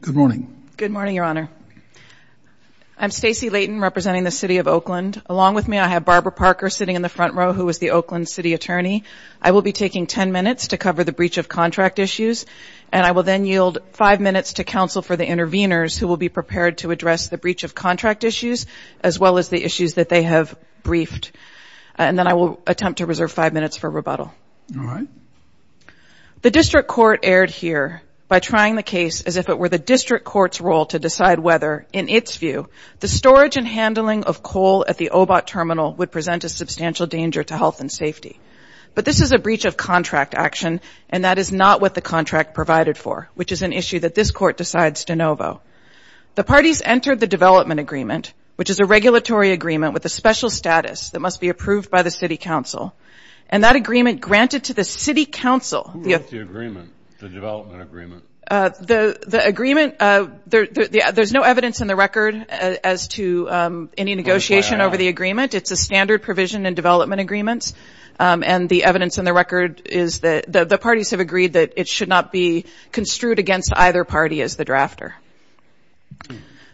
Good morning. Good morning, Your Honor. I'm Stacey Layton representing the City of Oakland. Along with me I have Barbara Parker sitting in the front row who is the Oakland City Attorney. I will be taking 10 minutes to cover the breach of contract issues and I will then yield five minutes to counsel for the interveners who will be prepared to address the breach of contract issues as well as the issues that they have briefed. And then I will attempt to by trying the case as if it were the district court's role to decide whether, in its view, the storage and handling of coal at the OBOT terminal would present a substantial danger to health and safety. But this is a breach of contract action and that is not what the contract provided for, which is an issue that this court decides de novo. The parties entered the development agreement, which is a regulatory agreement with a special status that must be approved by the City Council. And that agreement granted to the City Council. Who wrote the agreement, the development agreement? The agreement, there's no evidence in the record as to any negotiation over the agreement. It's a standard provision in development agreements. And the evidence in the record is that the parties have agreed that it should not be construed against either party as the drafter.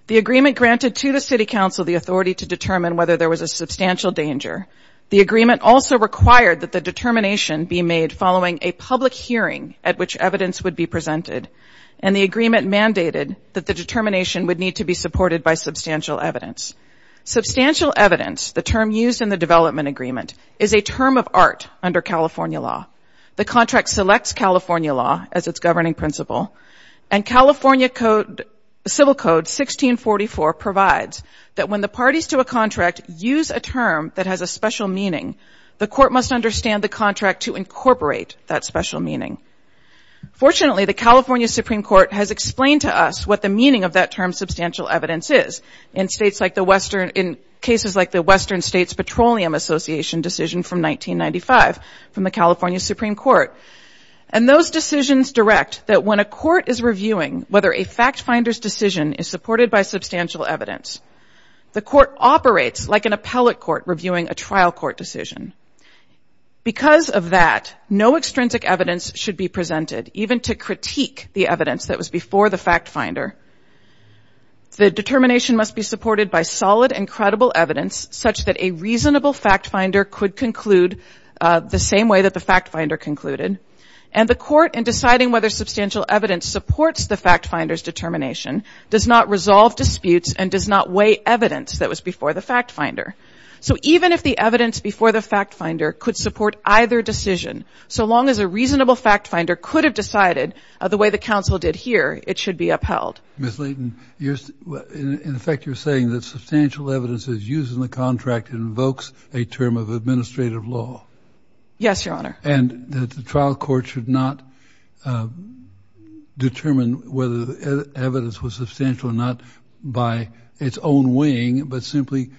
The agreement granted to the City Council the authority to determine whether there was a substantial danger. The agreement also required that the determination be made following a public hearing at which evidence would be presented. And the agreement mandated that the determination would need to be supported by substantial evidence. Substantial evidence, the term used in the development agreement, is a term of art under California law. The contract selects California law as its governing principle. And California Code, Civil Code 1644 provides that when the parties to a contract use a term that has a special meaning, the court must understand the contract to incorporate that special meaning. Fortunately, the California Supreme Court has explained to us what the meaning of that term substantial evidence is. In states like the Western, in cases like the Western States Petroleum Association decision from 1995 from the California Supreme Court. And those decisions direct that when a court is reviewing whether a fact finder's decision is supported by substantial evidence, the court operates like an appellate court reviewing a trial court decision. Because of that, no extrinsic evidence should be presented, even to critique the evidence that was before the fact finder. The determination must be supported by solid and credible evidence such that a reasonable fact finder could conclude the same way that the fact finder concluded. And the court, in deciding whether substantial evidence supports the fact finder's determination, does not resolve disputes and does not weigh evidence that was before the fact finder. So even if the evidence before the fact finder could support either decision, so long as a reasonable fact finder could have decided the way the council did here, it should be upheld. Ms. Leighton, in effect, you're saying that substantial evidence is used in the contract invokes a term of administrative law. Yes, Your Honor. And that the trial court should not determine whether the evidence was substantial or not by its own weighing, but simply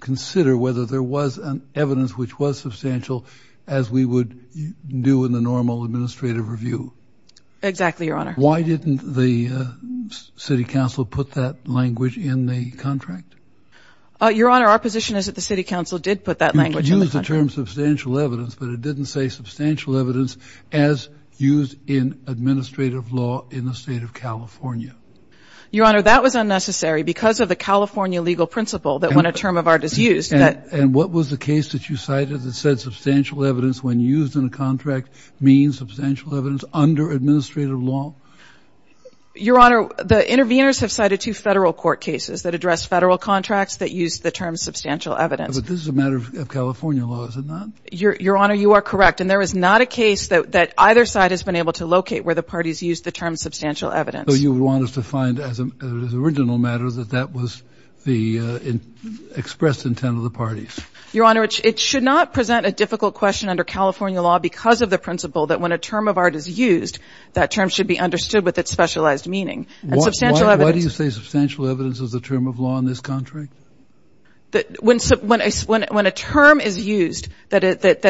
consider whether there was an evidence which was substantial as we would do in the normal administrative review. Exactly, Your Honor. Why didn't the City Council put that language in the contract? Your Honor, our position is that the City Council did put that language in the contract. You could use the term substantial evidence as used in administrative law in the state of California. Your Honor, that was unnecessary because of the California legal principle that when a term of art is used... And what was the case that you cited that said substantial evidence when used in a contract means substantial evidence under administrative law? Your Honor, the interveners have cited two federal court cases that address federal contracts that use the term substantial evidence. But this is a matter of California law, is it not? Your Honor, you are correct. And there is not a case that either side has been able to locate where the parties used the term substantial evidence. So you want us to find, as an original matter, that that was the expressed intent of the parties? Your Honor, it should not present a difficult question under California law because of the principle that when a term of art is used, that term should be understood with its specialized meaning. Why do you say substantial evidence is the term of law in this contract? When a term is used that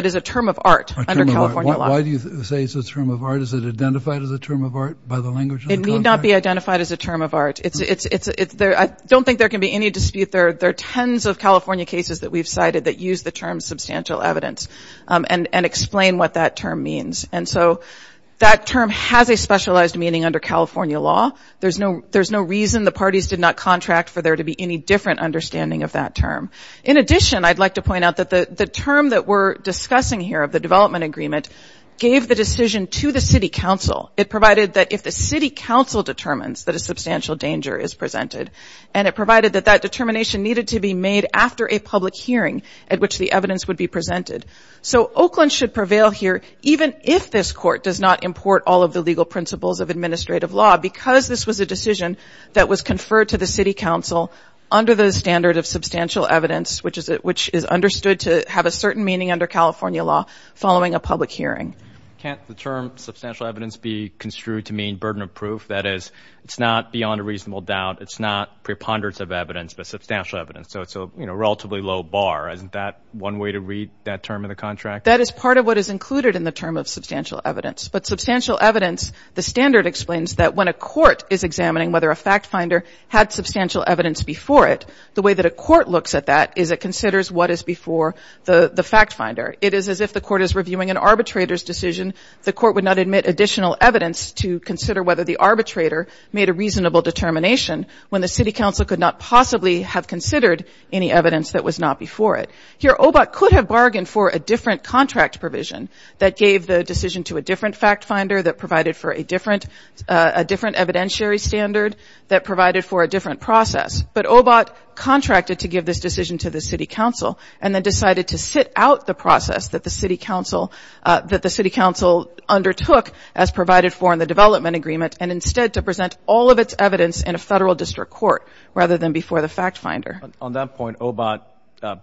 is a term of art. Why do you say it's a term of art? Is it identified as a term of art by the language? It may not be identified as a term of art. I don't think there can be any dispute there. There are tens of California cases that we've cited that use the term substantial evidence and explain what that term means. And so that term has a specialized meaning under California law. There's no there's no reason the parties did not contract for there to be any different understanding of that term. In addition, I'd like to point out that the term that we're discussing here of the development agreement gave the decision to the City Council. It provided that if the City Council determines that a substantial danger is presented, and it provided that that determination needed to be made after a public hearing at which the evidence would be presented. So Oakland should prevail here even if this court does not import all of the legal principles of administrative law because this was a decision that was conferred to the City Council under the standard of substantial evidence, which is understood to have a certain meaning under California law following a public hearing. Can't the term substantial evidence be construed to mean burden of proof? That is, it's not beyond a reasonable doubt. It's not preponderance of evidence, but substantial evidence. So it's a, you know, relatively low bar. Isn't that one way to read that term in the contract? That is part of what is included in the term of substantial evidence. But substantial evidence, the standard explains that when a court is examining whether a fact-finder had substantial evidence before it, the way that a court looks at that is it before the fact-finder. It is as if the court is reviewing an arbitrator's decision, the court would not admit additional evidence to consider whether the arbitrator made a reasonable determination when the City Council could not possibly have considered any evidence that was not before it. Here, OBOT could have bargained for a different contract provision that gave the decision to a different fact-finder that provided for a different evidentiary standard that provided for a different process, but OBOT contracted to give this decision to the City Council and then decided to sit out the process that the City Council undertook as provided for in the development agreement and instead to present all of its evidence in a federal district court rather than before the fact-finder. On that point, OBOT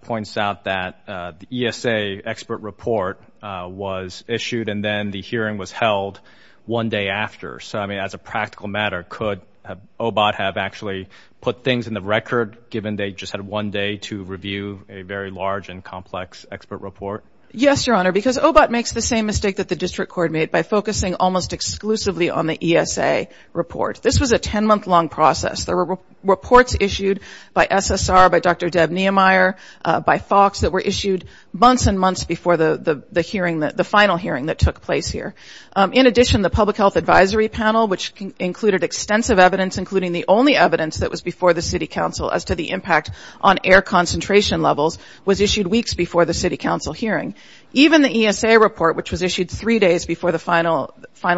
points out that the ESA expert report was issued and then the hearing was held one day after. So, I mean, as a practical matter, could OBOT have actually put things in the record, given they just had one day to review a very large and complex expert report? Yes, Your Honor, because OBOT makes the same mistake that the district court made by focusing almost exclusively on the ESA report. This was a 10-month long process. There were reports issued by SSR, by Dr. Deb Niemeyer, by Fox that were issued months and months before the hearing, the final hearing that took place here. In addition, the Public Health Advisory Panel, which included extensive evidence, including the only evidence that was before the City Council as to the impact on air concentration levels, was issued weeks before the City Council hearing. Even the ESA report, which was issued three days before the final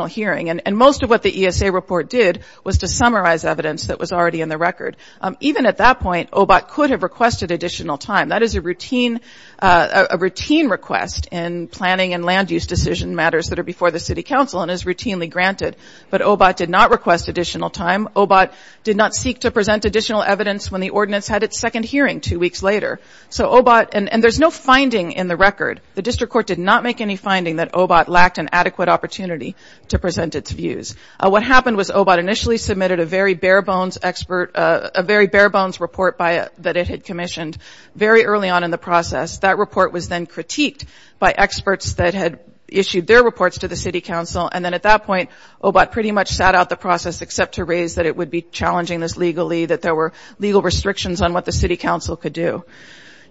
hearing, and most of what the ESA report did was to summarize evidence that was already in the record. Even at that point, OBOT could have requested additional time. That is a routine request in planning and land-use decision matters that are before the City Council and is routinely granted, but OBOT did not request additional time. OBOT did not seek to present additional evidence when the ordinance had its second hearing two weeks later. So OBOT, and there's no finding in the record, the district court did not make any finding that OBOT lacked an adequate opportunity to present its views. What happened was OBOT initially submitted a very bare-bones expert, a very bare-bones report that it had commissioned very early on in the process. That report was then critiqued by experts that had issued their reports to the City Council, and then at that point, the City Council decided that it would be challenging this legally, that there were legal restrictions on what the City Council could do.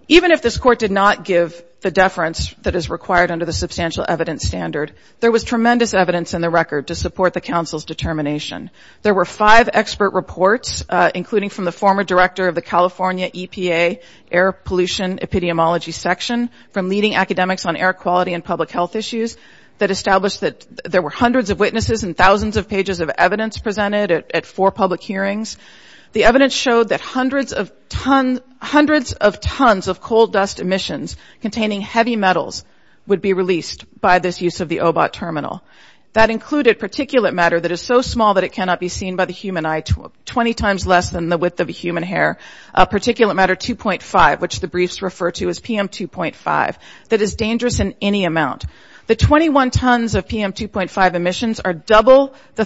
Even if this court did not give the deference that is required under the Substantial Evidence Standard, there was tremendous evidence in the record to support the Council's determination. There were five expert reports, including from the former director of the California EPA Air Pollution Epidemiology Section, from leading academics on air quality and public health issues, that established that there were hundreds of witnesses and thousands of pages of evidence presented at four public hearings. The evidence showed that hundreds of tons of coal dust emissions containing heavy metals would be released by this use of the OBOT terminal. That included particulate matter that is so small that it cannot be seen by the human eye, 20 times less than the width of a human hair, particulate matter 2.5, which the briefs refer to as PM 2.5, that is dangerous in any amount. The 21 tons of PM 2.5 emissions are double the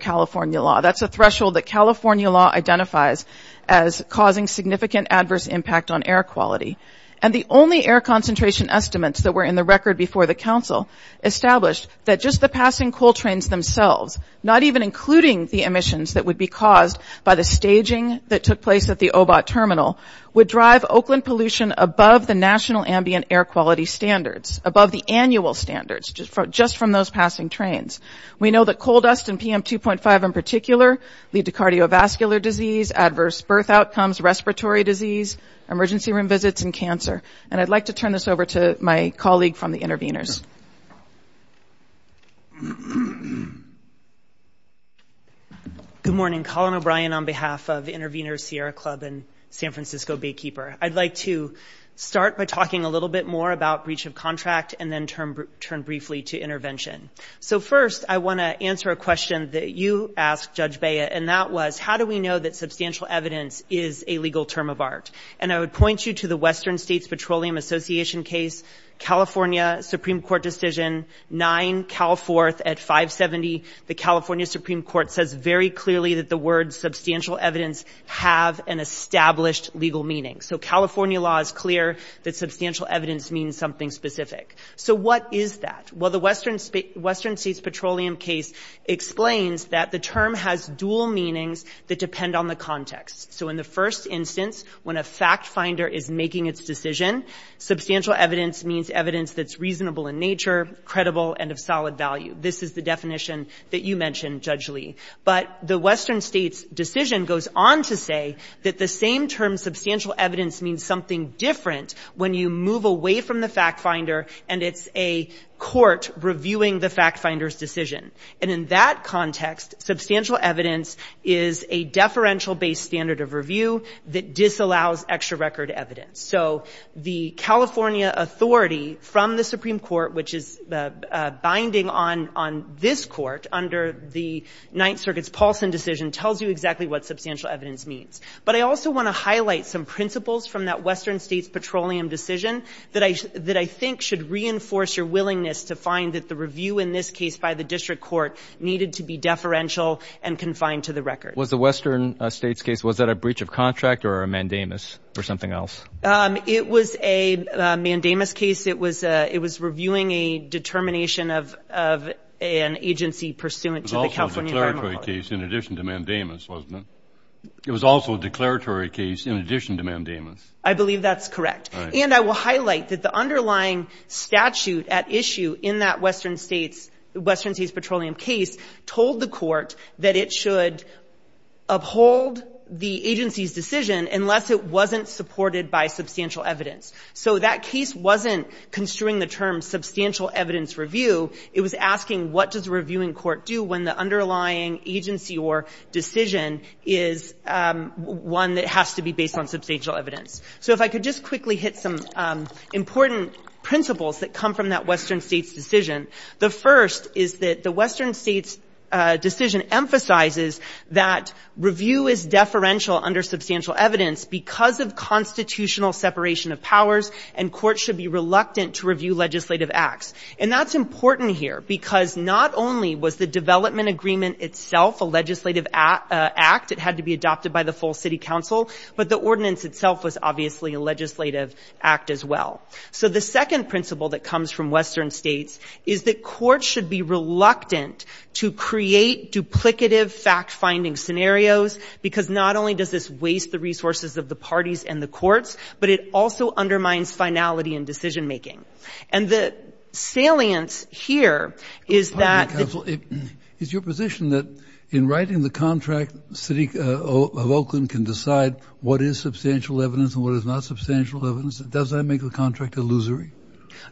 California law. That's a threshold that California law identifies as causing significant adverse impact on air quality. And the only air concentration estimates that were in the record before the Council established that just the passing coal trains themselves, not even including the emissions that would be caused by the staging that took place at the OBOT terminal, would drive Oakland pollution above the national ambient air quality standards, above the annual standards, just from those passing trains. We know that coal dust and PM 2.5 in particular lead to cardiovascular disease, adverse birth outcomes, respiratory disease, emergency room visits, and cancer. And I'd like to turn this over to my colleague from the Intervenors. Good morning, Colin O'Brien on behalf of Intervenors Sierra Club and San Francisco Baykeeper. I'd like to start by talking a little bit more about breach of contract, and then turn briefly to intervention. So first, I want to answer a question that you asked, Judge Bea, and that was, how do we know that substantial evidence is a legal term of art? And I would point you to the Western States Petroleum Association case, California Supreme Court decision, 9 Cal 4th at 570. The California Supreme Court says very clearly that the words substantial evidence have an established legal meaning. So California law is clear that it's not legal, it's not specific. So what is that? Well, the Western States Petroleum case explains that the term has dual meanings that depend on the context. So in the first instance, when a fact-finder is making its decision, substantial evidence means evidence that's reasonable in nature, credible, and of solid value. This is the definition that you mentioned, Judge Lee. But the Western States decision goes on to say that the same term, substantial evidence, means something different when you move away from the fact-finder and it's a court reviewing the fact-finder's decision. And in that context, substantial evidence is a deferential-based standard of review that disallows extra record evidence. So the California authority from the Supreme Court, which is binding on this court under the Ninth Circuit's Paulson decision, tells you exactly what substantial evidence means. But I also want to highlight some principles from that Western States Petroleum decision that I think should reinforce your willingness to find that the review in this case by the district court needed to be deferential and confined to the record. Was the Western States case, was that a breach of contract or a mandamus or something else? It was a mandamus case. It was reviewing a determination of an agency pursuant to the California Department of Labor. It was also a declaratory case in addition to mandamus, wasn't it? It was also a declaratory case in addition to mandamus. I believe that's correct. And I will highlight that the underlying statute at issue in that Western States Petroleum case told the court that it should uphold the agency's decision unless it wasn't supported by substantial evidence. So that case wasn't construing the term substantial evidence review. It was asking what does a reviewing court do when the underlying agency or decision is one that has to be based on substantial evidence? So if I could just quickly hit some important principles that come from that Western States decision. The first is that the Western States decision emphasizes that review is deferential under substantial evidence because of constitutional separation of powers and courts should be reluctant to review legislative acts. And that's important here because not only was the development agreement itself a legislative act, it had to be adopted by the full city council, but the ordinance itself was obviously a legislative act as well. So the second principle that comes from Western States is that courts should be reluctant to create duplicative fact-finding scenarios because not only does this waste the resources of the parties and the courts, but it also undermines finality in decision-making. And the salience here is that the position that in writing the contract, the city of Oakland can decide what is substantial evidence and what is not substantial evidence, does that make the contract illusory?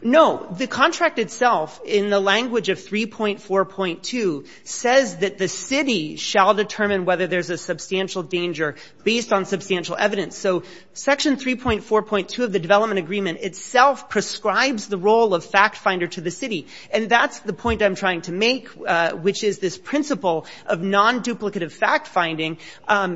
No. The contract itself in the language of 3.4.2 says that the city shall determine whether there's a substantial danger based on substantial evidence. So section 3.4.2 of the development agreement itself prescribes the role of fact-finder to the city. And that's the point I'm trying to make, which is this principle of non-duplicative fact-finding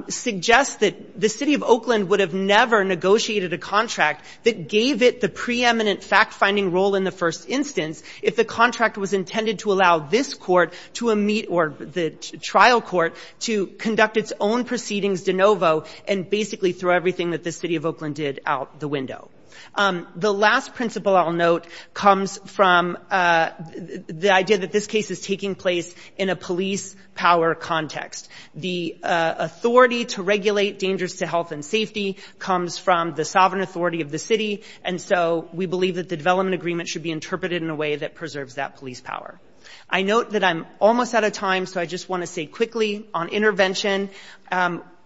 suggests that the city of Oakland would have never negotiated a contract that gave it the preeminent fact-finding role in the first instance if the contract was intended to allow this court to meet or the trial court to conduct its own proceedings de novo and basically throw everything that the city of Oakland did out the window. The last principle I'll note comes from the idea that this case is taking place in a police power context. The authority to regulate dangers to health and safety comes from the sovereign authority of the city, and so we believe that the development agreement should be interpreted in a way that preserves that police power. I note that I'm almost out of time, so I just want to say quickly on intervention.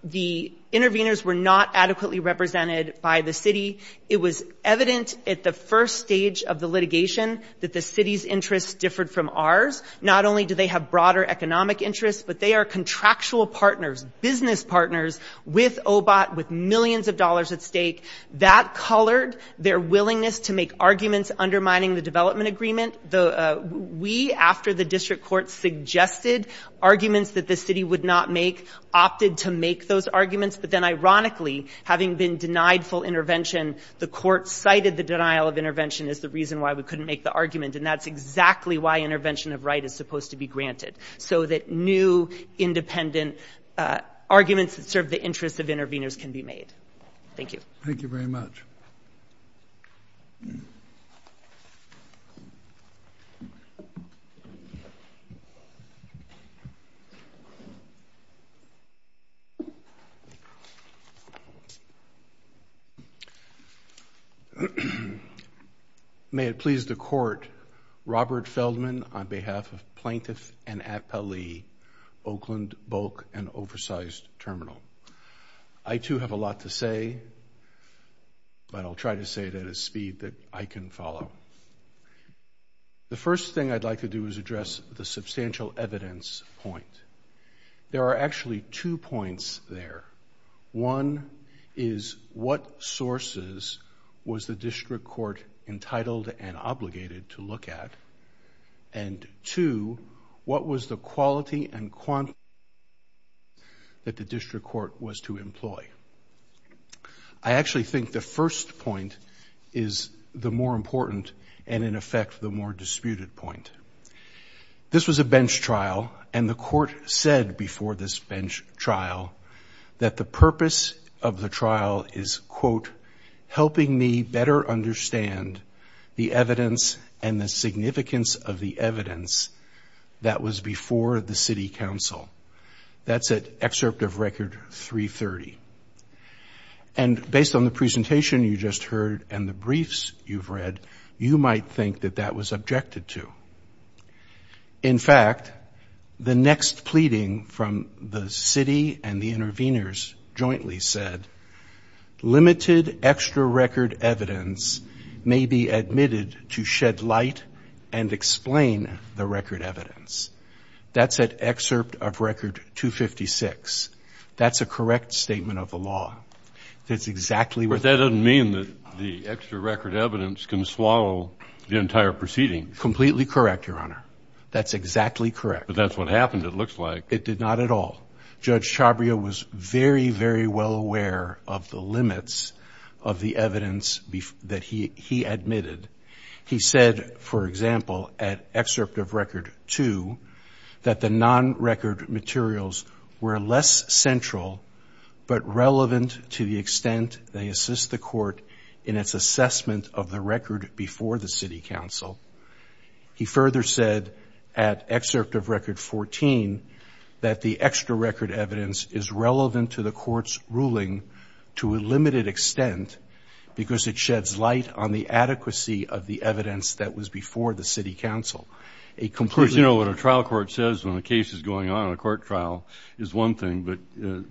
The interveners were not adequately represented by the city. It was evident at the first stage of the litigation that the city's interests differed from ours. Not only do they have broader economic interests, but they are contractual partners, business partners, with OBOT, with millions of dollars at stake. That colored their willingness to make arguments undermining the development agreement. We, after the district court suggested arguments that the city would not make, opted to make those arguments, but then ironically, having been denied full intervention, the court cited the denial of intervention as the reason why we couldn't make the argument, and that's exactly why intervention of right is supposed to be granted, so that new independent arguments that serve the interests of interveners can be made. Thank you. Thank you very much. May it please the court, Robert Feldman on behalf of Plaintiff and District Court. I'll try to say it at a speed that I can follow. The first thing I'd like to do is address the substantial evidence point. There are actually two points there. One is what sources was the district court entitled and obligated to look at, and two, what was the quality and quantity that the district court was entitled to look at. I actually think the first point is the more important and, in effect, the more disputed point. This was a bench trial, and the court said before this bench trial that the purpose of the trial is, quote, helping me better understand the evidence and the significance of the evidence that was before the city council. That's at excerpt of record 330. And based on the presentation you just heard and the briefs you've read, you might think that that was objected to. In fact, the next pleading from the city and the interveners jointly said, limited extra record evidence may be admitted to shed light and explain the record evidence. That's at excerpt of record 256. That's a correct statement of the law. That's exactly what... But that doesn't mean that the extra record evidence can swallow the entire proceeding. Completely correct, Your Honor. That's exactly correct. But that's what happened, it looks like. It did not at all. Judge Chabria was very, very well aware of the limits of the evidence that was before the city council. He said that the extra record evidence is less central, but relevant to the extent they assist the court in its assessment of the record before the city council. He further said at excerpt of record 14 that the extra record evidence is relevant to the court's ruling to a limited extent because it sheds light on the whole thing, but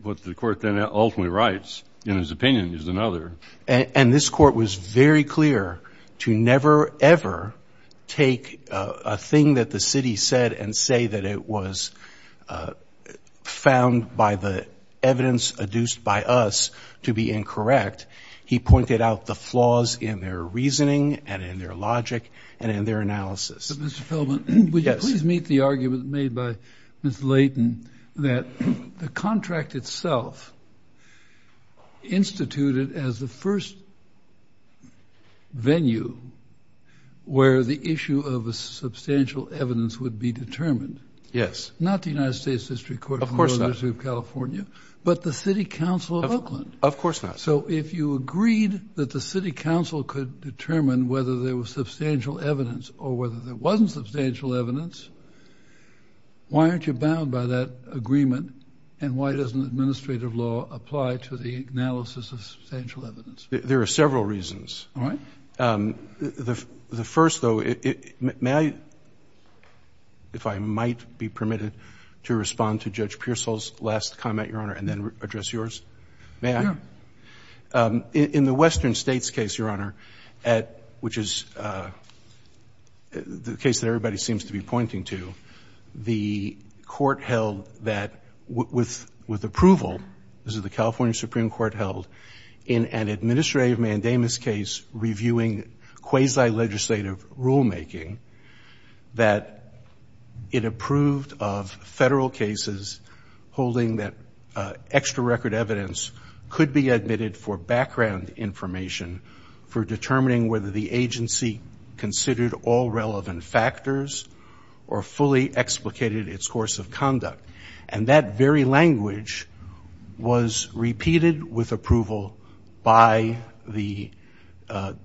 what the court then ultimately writes in his opinion is another. And this court was very clear to never, ever take a thing that the city said and say that it was found by the evidence adduced by us to be incorrect. He pointed out the flaws in their reasoning and in their logic and in their analysis. Mr. Feldman, would you please meet the argument made by Ms. Leighton that the contract itself instituted as the first venue where the issue of a substantial evidence would be determined? Yes. Not the United States District Court of California, but the city council of Oakland. Of course not. So if you agreed that the city council could determine whether there was substantial evidence or whether there wasn't substantial evidence, why aren't you bound by that agreement and why doesn't administrative law apply to the analysis of substantial evidence? There are several reasons. All right. The first, though, if I might be permitted to respond to Judge Pearsall's last comment, Your Honor, and then address yours. May I? Yeah. In the Western States case, Your Honor, which is the case that everybody seems to be pointing to, the court held that with approval, as the California Supreme Court held in an administrative mandamus case reviewing quasi-legislative rulemaking, that it approved of federal cases holding that extra record evidence could be admitted for background information for determining whether the agency considered all relevant factors or fully explicated its course of conduct. And that very language was repeated with approval by the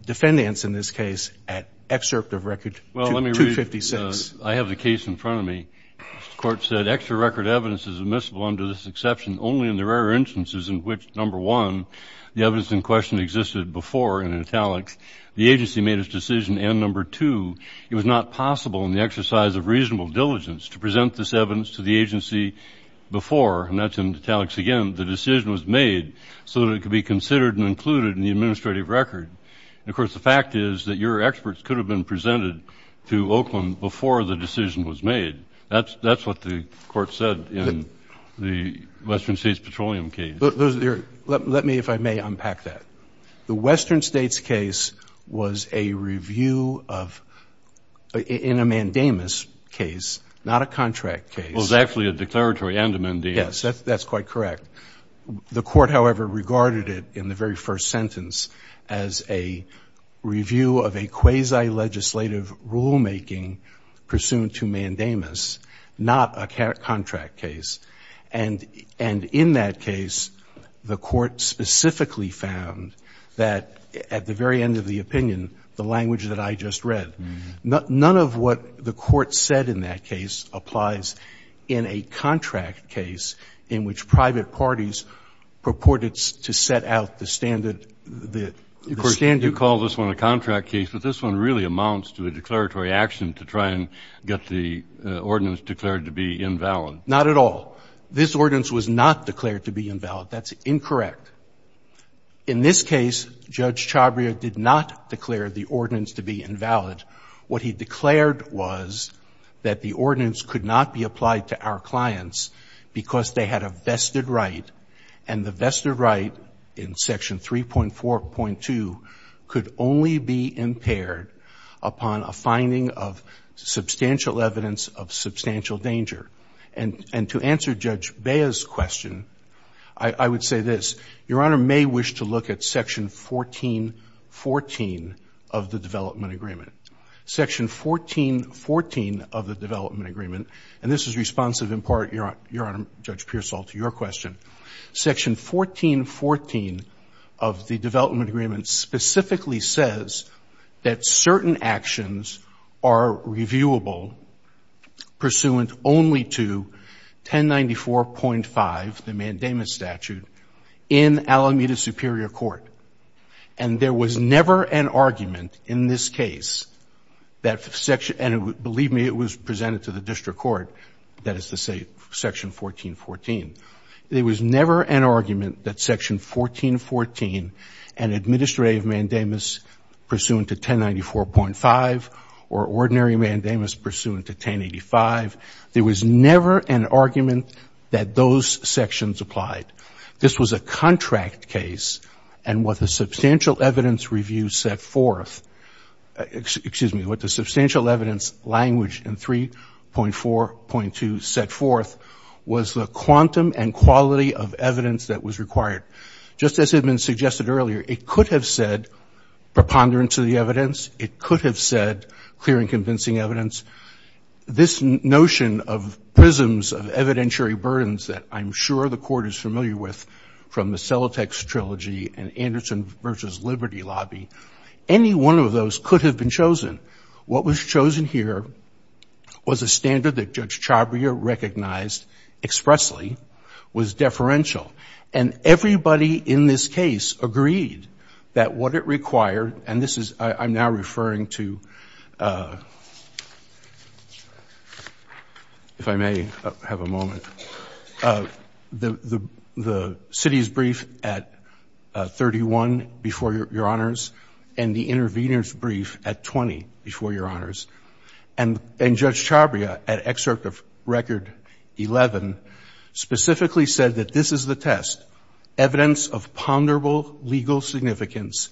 defendants in this case at excerpt of Record 256. Well, let me read. I have the case in front of me. The evidence in question existed before in italics. The agency made its decision and, number two, it was not possible in the exercise of reasonable diligence to present this evidence to the agency before, and that's in italics again, the decision was made so that it could be considered and included in the administrative record. And, of course, the fact is that your experts could have been presented to Oakland before the decision was made. That's what the case is. The Western States case was a review of, in a mandamus case, not a contract case. Well, it was actually a declaratory and a mandamus. Yes, that's quite correct. The court, however, regarded it in the very first sentence as a review of a quasi-legislative rulemaking pursuant to mandamus, not a contract case. And in that case, the court specifically found that, at the very end of the opinion, the language that I just read, none of what the court said in that case applies in a contract case in which private parties purported to set out the standard. Of course, you call this one a contract case, but this one really amounts to a declaratory action to try and get the ordinance declared to be invalid. Not at all. This ordinance was not declared to be invalid. That's incorrect. In this case, Judge Chabria did not declare the ordinance to be invalid. What he declared was that the ordinance could not be applied to our clients because they had a vested right, and the vested right in Section 3.4.2 could only be impaired upon a finding of substantial danger. And to answer Judge Beah's question, I would say this. Your Honor may wish to look at Section 14.14 of the Development Agreement. Section 14.14 of the Development Agreement, and this is responsive in part, Your Honor, Judge Pearsall, to your question. Section 14.14 of the Development Agreement specifically says that certain actions are reviewable, and that certain actions are reviewable pursuant only to 1094.5, the mandamus statute, in Alameda Superior Court. And there was never an argument in this case, and believe me, it was presented to the district court, that is to say Section 14.14. There was never an argument that Section 14.14, an administrative mandamus pursuant to 1094.5, or ordinary mandamus pursuant to 1085. There was never an argument that those sections applied. This was a contract case, and what the substantial evidence review set forth, excuse me, what the substantial evidence language in 3.4.2 set forth was the quantum and quality of evidence that was required. Just as had been suggested earlier, it could have said clear and convincing evidence. This notion of prisms of evidentiary burdens that I'm sure the Court is familiar with from the Celotex Trilogy and Anderson v. Liberty Lobby, any one of those could have been chosen. What was chosen here was a standard that Judge Chabria recognized expressly was deferential, and everybody in this case agreed that what it required, and this is, I'm now referring to, if I may have a moment, the city's brief at 31 before your honors, and the intervener's brief at 20 before your honors. And Judge Chabria, at excerpt of record 11, specifically said that this is the test, evidence of ponderable legal significance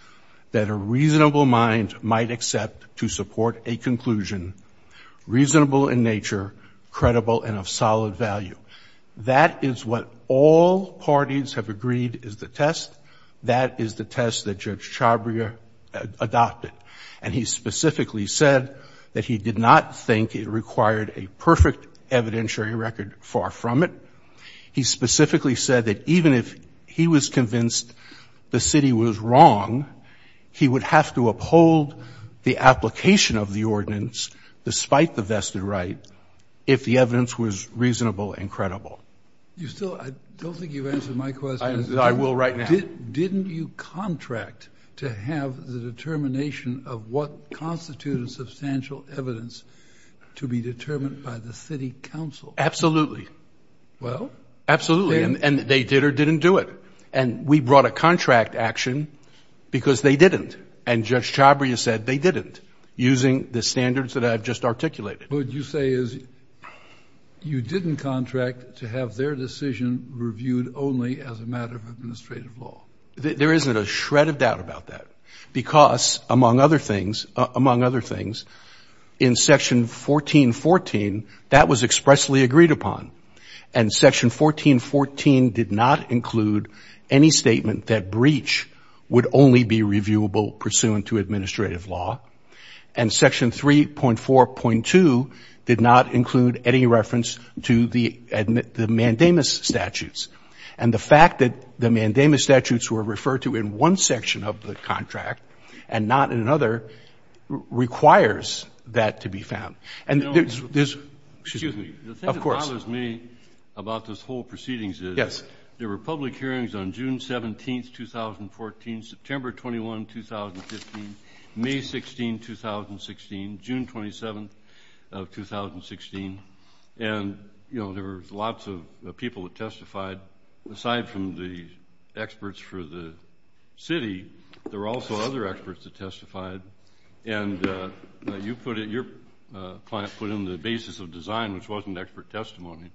that a reasonable mind might accept to support a conclusion, reasonable in nature, credible and of solid value. That is what all parties have agreed is the test. That is the test that Judge Chabria adopted. And he specifically said that he did not think it required a perfect evidentiary record, far from it. He specifically said that even if he was convinced the city was wrong, he would have to uphold the application of the ordinance, despite the vested right, if the evidence was reasonable and credible. I don't think you've answered my question. I will right now. Didn't you contract to have the determination of what constitutes substantial evidence to be determined by the city council? Absolutely. Well? Absolutely. And they did or didn't do it. And we brought a contract action because they didn't. And Judge Chabria said they didn't, using the standards that I've just articulated. What you say is you didn't contract to have their decision reviewed only as a matter of administrative law. There isn't a shred of doubt about that. Because, among other things, in Section 1414, that was expressly agreed upon. And Section 1414 did not include any statement that breach would only be reviewable pursuant to administrative law. And Section 3.4.2 did not include any reference to the mandamus statutes. And the fact that the mandamus statutes were referred to in one section of the contract and not in another requires that to be found. Excuse me. The thing that bothers me about this whole proceedings is there were public hearings on June 17, 2014, September 21, 2015, May 16, 2016, June 27, 2016. And there were lots of people that testified. Aside from the experts for the city, there were also other experts that testified. And your client put in the basis of design, which wasn't expert testimony.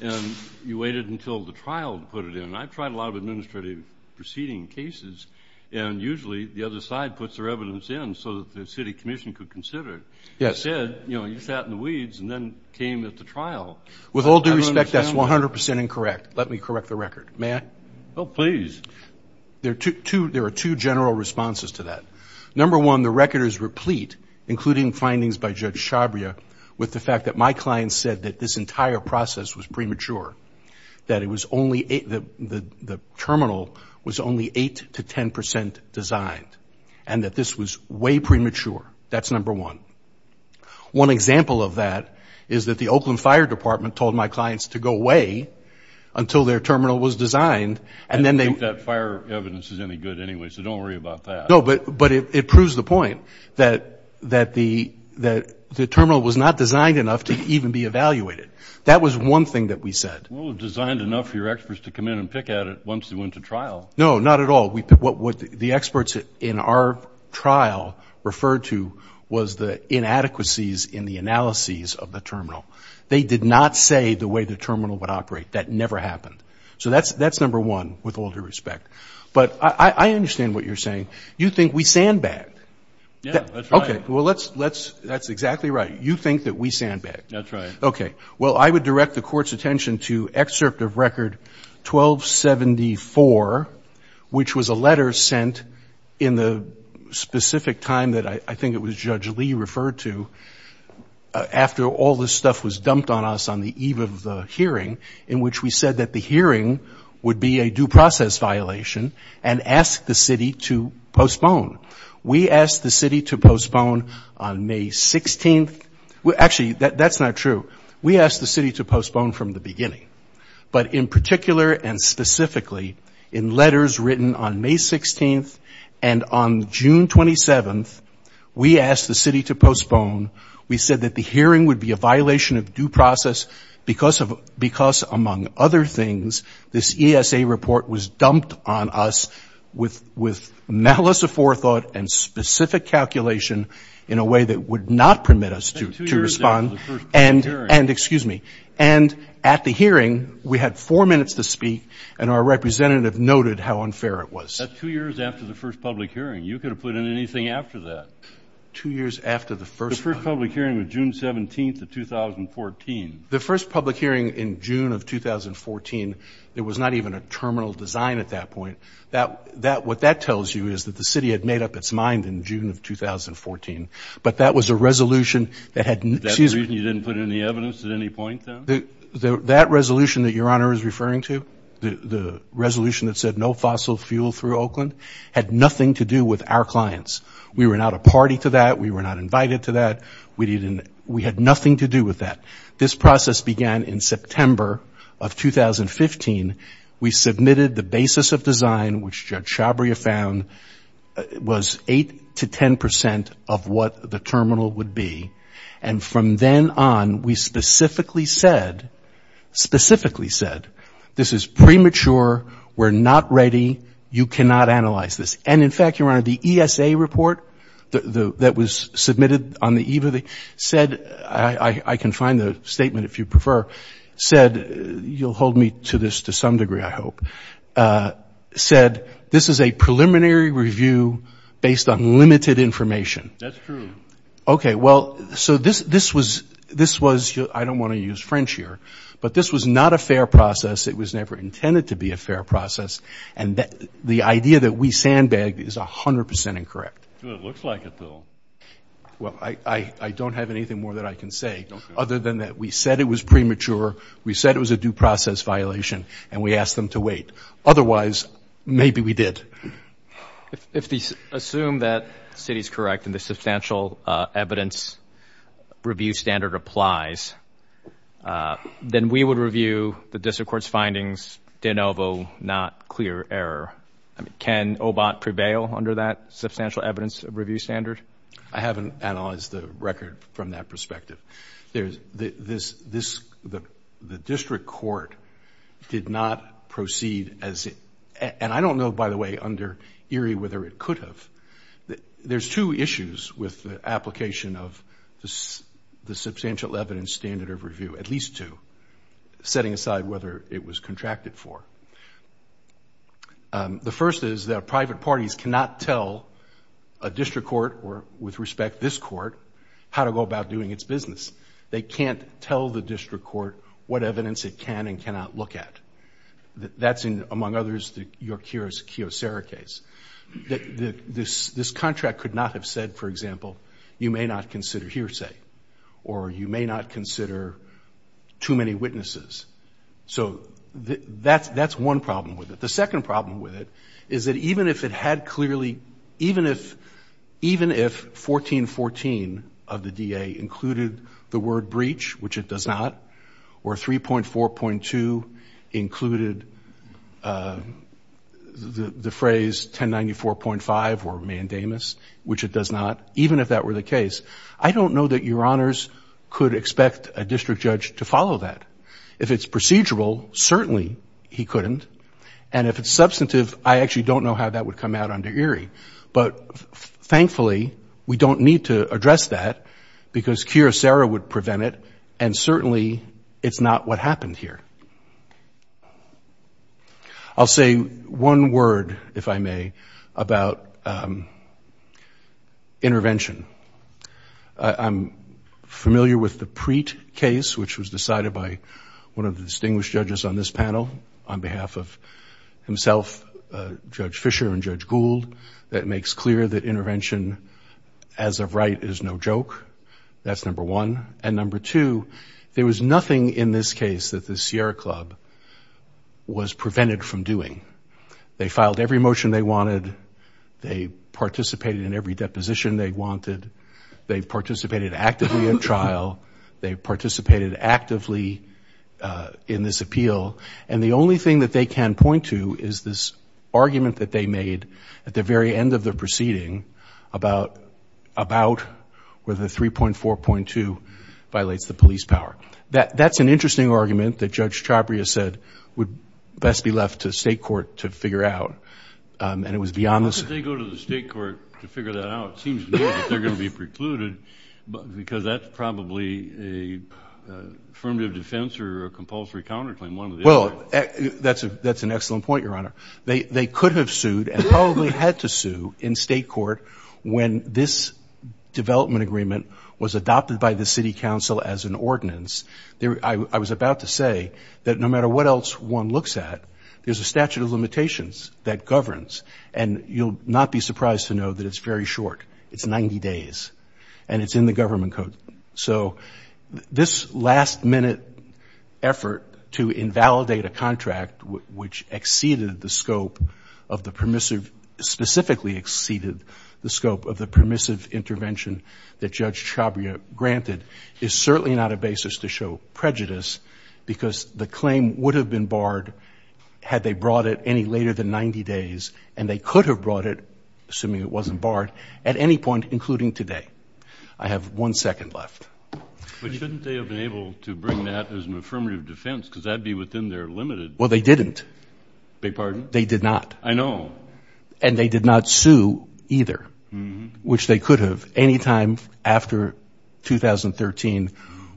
And you waited until the trial to put it in. And I've tried a lot of administrative proceeding cases. And usually the other side puts their evidence in so that the city commission could consider it. Instead, you sat in the weeds and then came at the trial. With all due respect, that's 100 percent incorrect. Let me correct the record. May I? Oh, please. There are two general responses to that. Number one, the record is replete, including findings by Judge Shabria, with the fact that my client said that this entire process was premature, that the terminal was only 8 to 10 percent designed, and that this was way premature. That's number one. One example of that is that the Oakland Fire Department told my clients to go away until their terminal was designed. I don't think that fire evidence is any good anyway, so don't worry about that. No, but it proves the point that the terminal was not designed enough to even be evaluated. That was one thing that we said. Well, it was designed enough for your experts to come in and pick at it once they went to trial. No, not at all. What the experts in our trial referred to was the inadequacies in the analyses of the terminal. They did not say the way the terminal would operate. That never happened. So that's number one, with all due respect. But I understand what you're saying. You think we sandbagged. Yeah, that's right. Okay. Well, that's exactly right. You think that we sandbagged. That's right. Okay. Well, I would direct the Court's attention to Excerpt of Record 1274, which was a letter sent in the specific time that I think it was Judge Lee referred to, after all this stuff was dumped on us on the eve of the hearing, in which we said that the hearing would be a due process violation and asked the city to postpone. We asked the city to postpone on May 16th. Actually, that's not true. We asked the city to postpone from the beginning. But in particular and specifically, in letters written on May 16th and on June 27th, we asked the city to postpone. We said that the hearing would be a violation of due process because, among other things, this ESA report was dumped on us with malice aforethought and specific calculation in a way that would not permit us to respond. That's two years after the first public hearing. And at the hearing, we had four minutes to speak, and our representative noted how unfair it was. That's two years after the first public hearing. You could have put in anything after that. The first public hearing was June 17th of 2014. The first public hearing in June of 2014, there was not even a terminal design at that point. What that tells you is that the city had made up its mind in June of 2014. But that was a resolution that had... That's the reason you didn't put in the evidence at any point then? That resolution that Your Honor is referring to, the resolution that said no fossil fuel through Oakland, had nothing to do with our clients. We were not a party to that. We were not invited to that. We had nothing to do with that. This process began in September of 2015. We submitted the basis of design, which Judge Shabria found was 8 to 10 percent of what the terminal would be. And from then on, we specifically said, specifically said, this is premature, we're not ready, you cannot analyze this. And in fact, Your Honor, the ESA report that was submitted on the eve of the... said, I can find the statement if you prefer, said, you'll hold me to this to some degree, I hope, said, this is a preliminary review based on limited information. That's true. Okay, well, so this was... I don't want to use French here. But this was not a fair process. It was never intended to be a fair process. And the idea that we sandbagged is 100 percent incorrect. It looks like it, though. Well, I don't have anything more that I can say other than that we said it was premature, we said it was a due process violation, and we asked them to wait. Otherwise, maybe we did. If we assume that the city is correct and the substantial evidence review standard applies, then we would review the district court's findings de novo, not clear error. Can OBOT prevail under that substantial evidence review standard? I haven't analyzed the record from that perspective. The district court did not proceed as... And I don't know, by the way, under Erie whether it could have. There's two issues with the application of the substantial evidence standard of review, at least two, setting aside whether it was contracted for. The first is that private parties cannot tell a district court, or with respect, this court, how to go about doing its business. They can't tell the district court what evidence it can and cannot look at. That's, among others, the York-Harris-Keough-Serra case. This contract could not have said, for example, you may not consider hearsay, or you may not consider too many witnesses. So that's one problem with it. The second problem with it is that even if it had clearly... Even if 1414 of the DA included the word breach, which it does not, or 3.4.2 included the phrase 1094.5 or mandamus, which it does not, even if that were the case, I don't know that Your Honors could expect a district judge to follow that. If it's procedural, certainly he couldn't, and if it's substantive, I actually don't know how that would come out under Erie. But thankfully, we don't need to address that, because Keough-Serra would prevent it, and certainly it's not what happened here. I'll say one word, if I may, about intervention. I'm familiar with the Preet case, which was decided by one of the distinguished judges on this panel, on behalf of himself, Judge Fischer and Judge Gould, that makes clear that intervention, as of right, is no joke. That's number one. And number two, there was nothing in this case that the Sierra Club was prevented from doing. They filed every motion they wanted, they participated in every deposition they wanted, they participated actively in trial, they participated actively in this appeal, and the only thing that they can point to is this argument that they made at the very end of the proceeding about whether 3.4.2 violates the police power. That's an interesting argument that Judge Chabria said would best be left to the State Court to figure out, and it was beyond this. Well, that's an excellent point, Your Honor. They could have sued and probably had to sue in State Court when this development agreement was adopted by the City Council as an ordinance. I was about to say that no matter what else one looks at, there's a statute of limitations that governs, and you'll not be surprised to know that it's very short. It's 90 days. And it's in the government code. So this last-minute effort to invalidate a contract, which exceeded the scope of the permissive, specifically exceeded the scope of the permissive intervention that Judge Chabria granted, is certainly not a basis to show prejudice, because the claim would have been barred had they brought it any later than 90 days, and they could have brought it, assuming it wasn't barred, at any point, including today. I have one second left. But shouldn't they have been able to bring that as an affirmative defense, because that would be within their limited... Well, they didn't. They did not. I know. And they did not sue, either, which they could have, any time after 2013,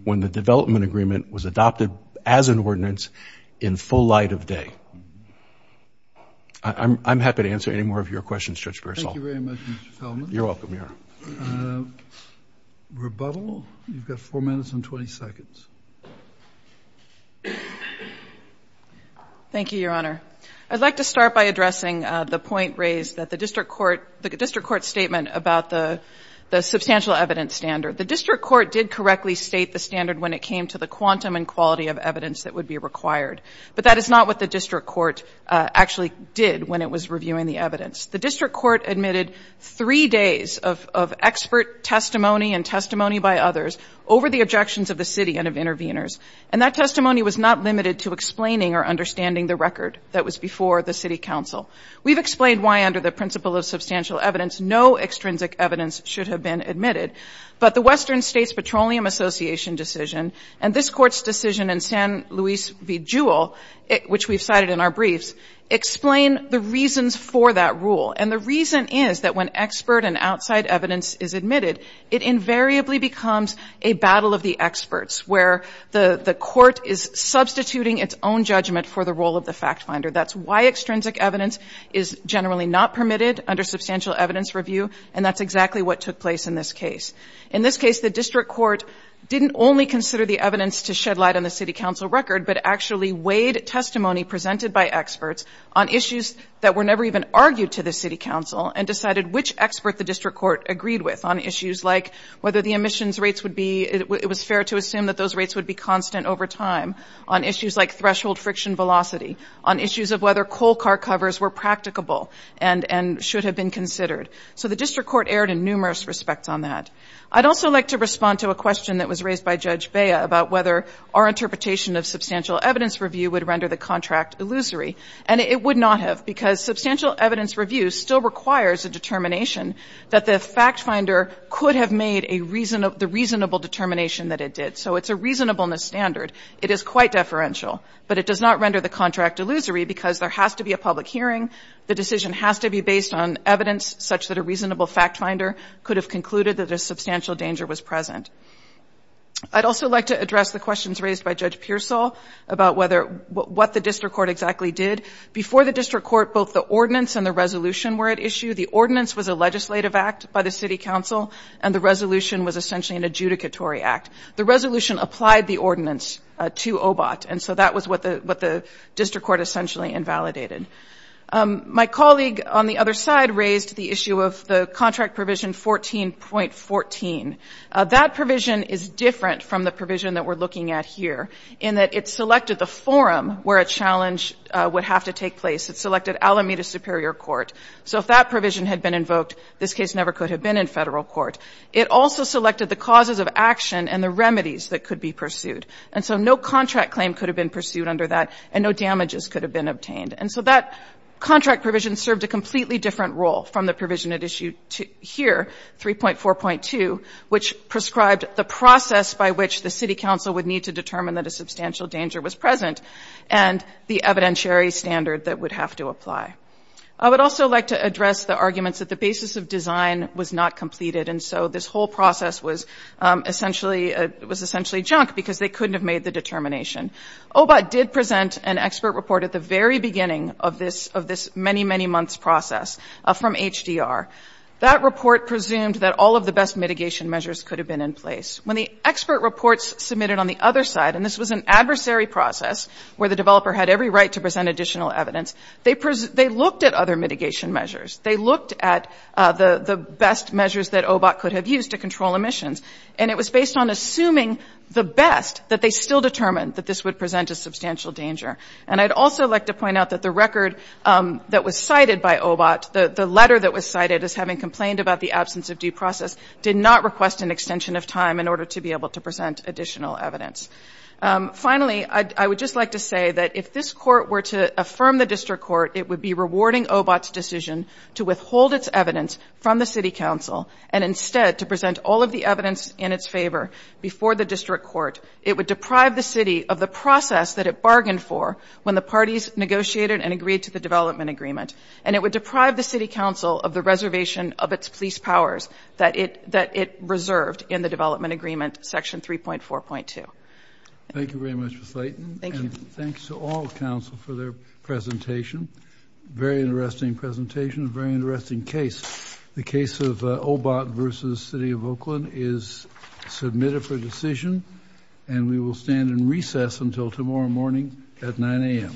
when the development agreement was adopted as an ordinance in full light of day. I'm happy to answer any more of your questions, Judge Griswold. Thank you very much, Mr. Fellman. You're welcome, Your Honor. Rebuttal. You've got 4 minutes and 20 seconds. Thank you, Your Honor. I'd like to start by addressing the point raised that the district court statement about the substantial evidence standard. The district court did correctly state the standard when it came to the quantum and quality of evidence that would be required. But that is not what the district court actually did when it was reviewing the evidence. The district court admitted 3 days of expert testimony and testimony by others over the objections of the city and of interveners. And that testimony was not limited to explaining or understanding the record that was before the city council. We've explained why, under the principle of substantial evidence, no extrinsic evidence should have been admitted. But the Western States Petroleum Association decision and this Court's decision in San Luis v. Jewel, which we've cited in our briefs, explain the reasons for that rule. And the reason is that when expert and outside evidence is admitted, it invariably becomes a battle of the experts, where the Court is substituting its own judgment for the role of the fact finder. That's why extrinsic evidence is generally not permitted under substantial evidence review. And that's exactly what took place in this case. In this case, the district court didn't only consider the evidence to shed light on the city council record, but actually weighed testimony presented by experts on issues that were never even argued to the city council and decided which expert the district court agreed with on issues like whether the emissions rates would be, it was fair to assume that those rates would be constant over time, on issues like threshold friction velocity, on issues of whether coal car covers were practicable and should have been considered. So the district court erred in numerous respects on that. I'd also like to respond to a question that was raised by Judge Bea about whether our interpretation of substantial evidence review would render the contract illusory. And it would not have, because substantial evidence review still requires a determination that the fact finder could have made the reasonable determination that it did. So it's a reasonableness standard. It is quite deferential, but it does not render the contract illusory because there has to be a public hearing. The decision has to be based on evidence such that a reasonable fact finder could have concluded that a substantial danger was present. I'd also like to address the questions raised by Judge Pearsall about what the district court exactly did. Before the district court, both the ordinance and the resolution were at issue. The ordinance was a legislative act by the city council, and the resolution was essentially an adjudicatory act. The resolution applied the ordinance to OBOT, and so that was what the district court essentially invalidated. My colleague on the other side raised the issue of the contract provision 14.14. That provision is different from the provision that we're looking at here, in that it selected the forum where a challenge would have to take place. It selected Alameda Superior Court. So if that provision had been invoked, this case never could have been in federal court. It also selected the causes of action and the remedies that could be pursued. And so no contract claim could have been pursued under that, and no damages could have been obtained. And so that contract provision served a completely different role from the provision at issue here, 3.4.2, which prescribed the process by which the city council would need to determine that a substantial danger was present, and the evidentiary standard that would have to apply. I would also like to address the arguments that the basis of design was not completed, and so this whole process was essentially junk because they couldn't have made the determination. OBOT did present an expert report at the very beginning of this many, many months process from HDR. That report presumed that all of the best mitigation measures could have been in place. When the expert reports submitted on the other side, and this was an adversary process, where the developer had every right to present additional evidence, they looked at other mitigation measures. They looked at the best measures that OBOT could have used to control emissions, and it was based on assuming the best that they still determined that this would present a substantial danger. And I'd also like to point out that the record that was cited by OBOT, the letter that was cited as having complained about the absence of due process, did not request an extension of time in order to be able to present additional evidence. Finally, I would just like to say that if this court were to affirm the district court, it would be rewarding OBOT's decision to withhold its evidence from the city council, and instead to present all of the evidence in its favor before the district court. It would deprive the city of the process that it bargained for when the parties negotiated and agreed to the development agreement, and it would deprive the city council of the reservation of its police powers that it reserved in the development agreement, section 3.4.2. Thank you very much, Ms. Layton. Thank you. And thanks to all the council for their presentation. Very interesting presentation, very interesting case. The case of OBOT v. City of Oakland is submitted for decision, and we will stand in recess until tomorrow morning at 9 a.m.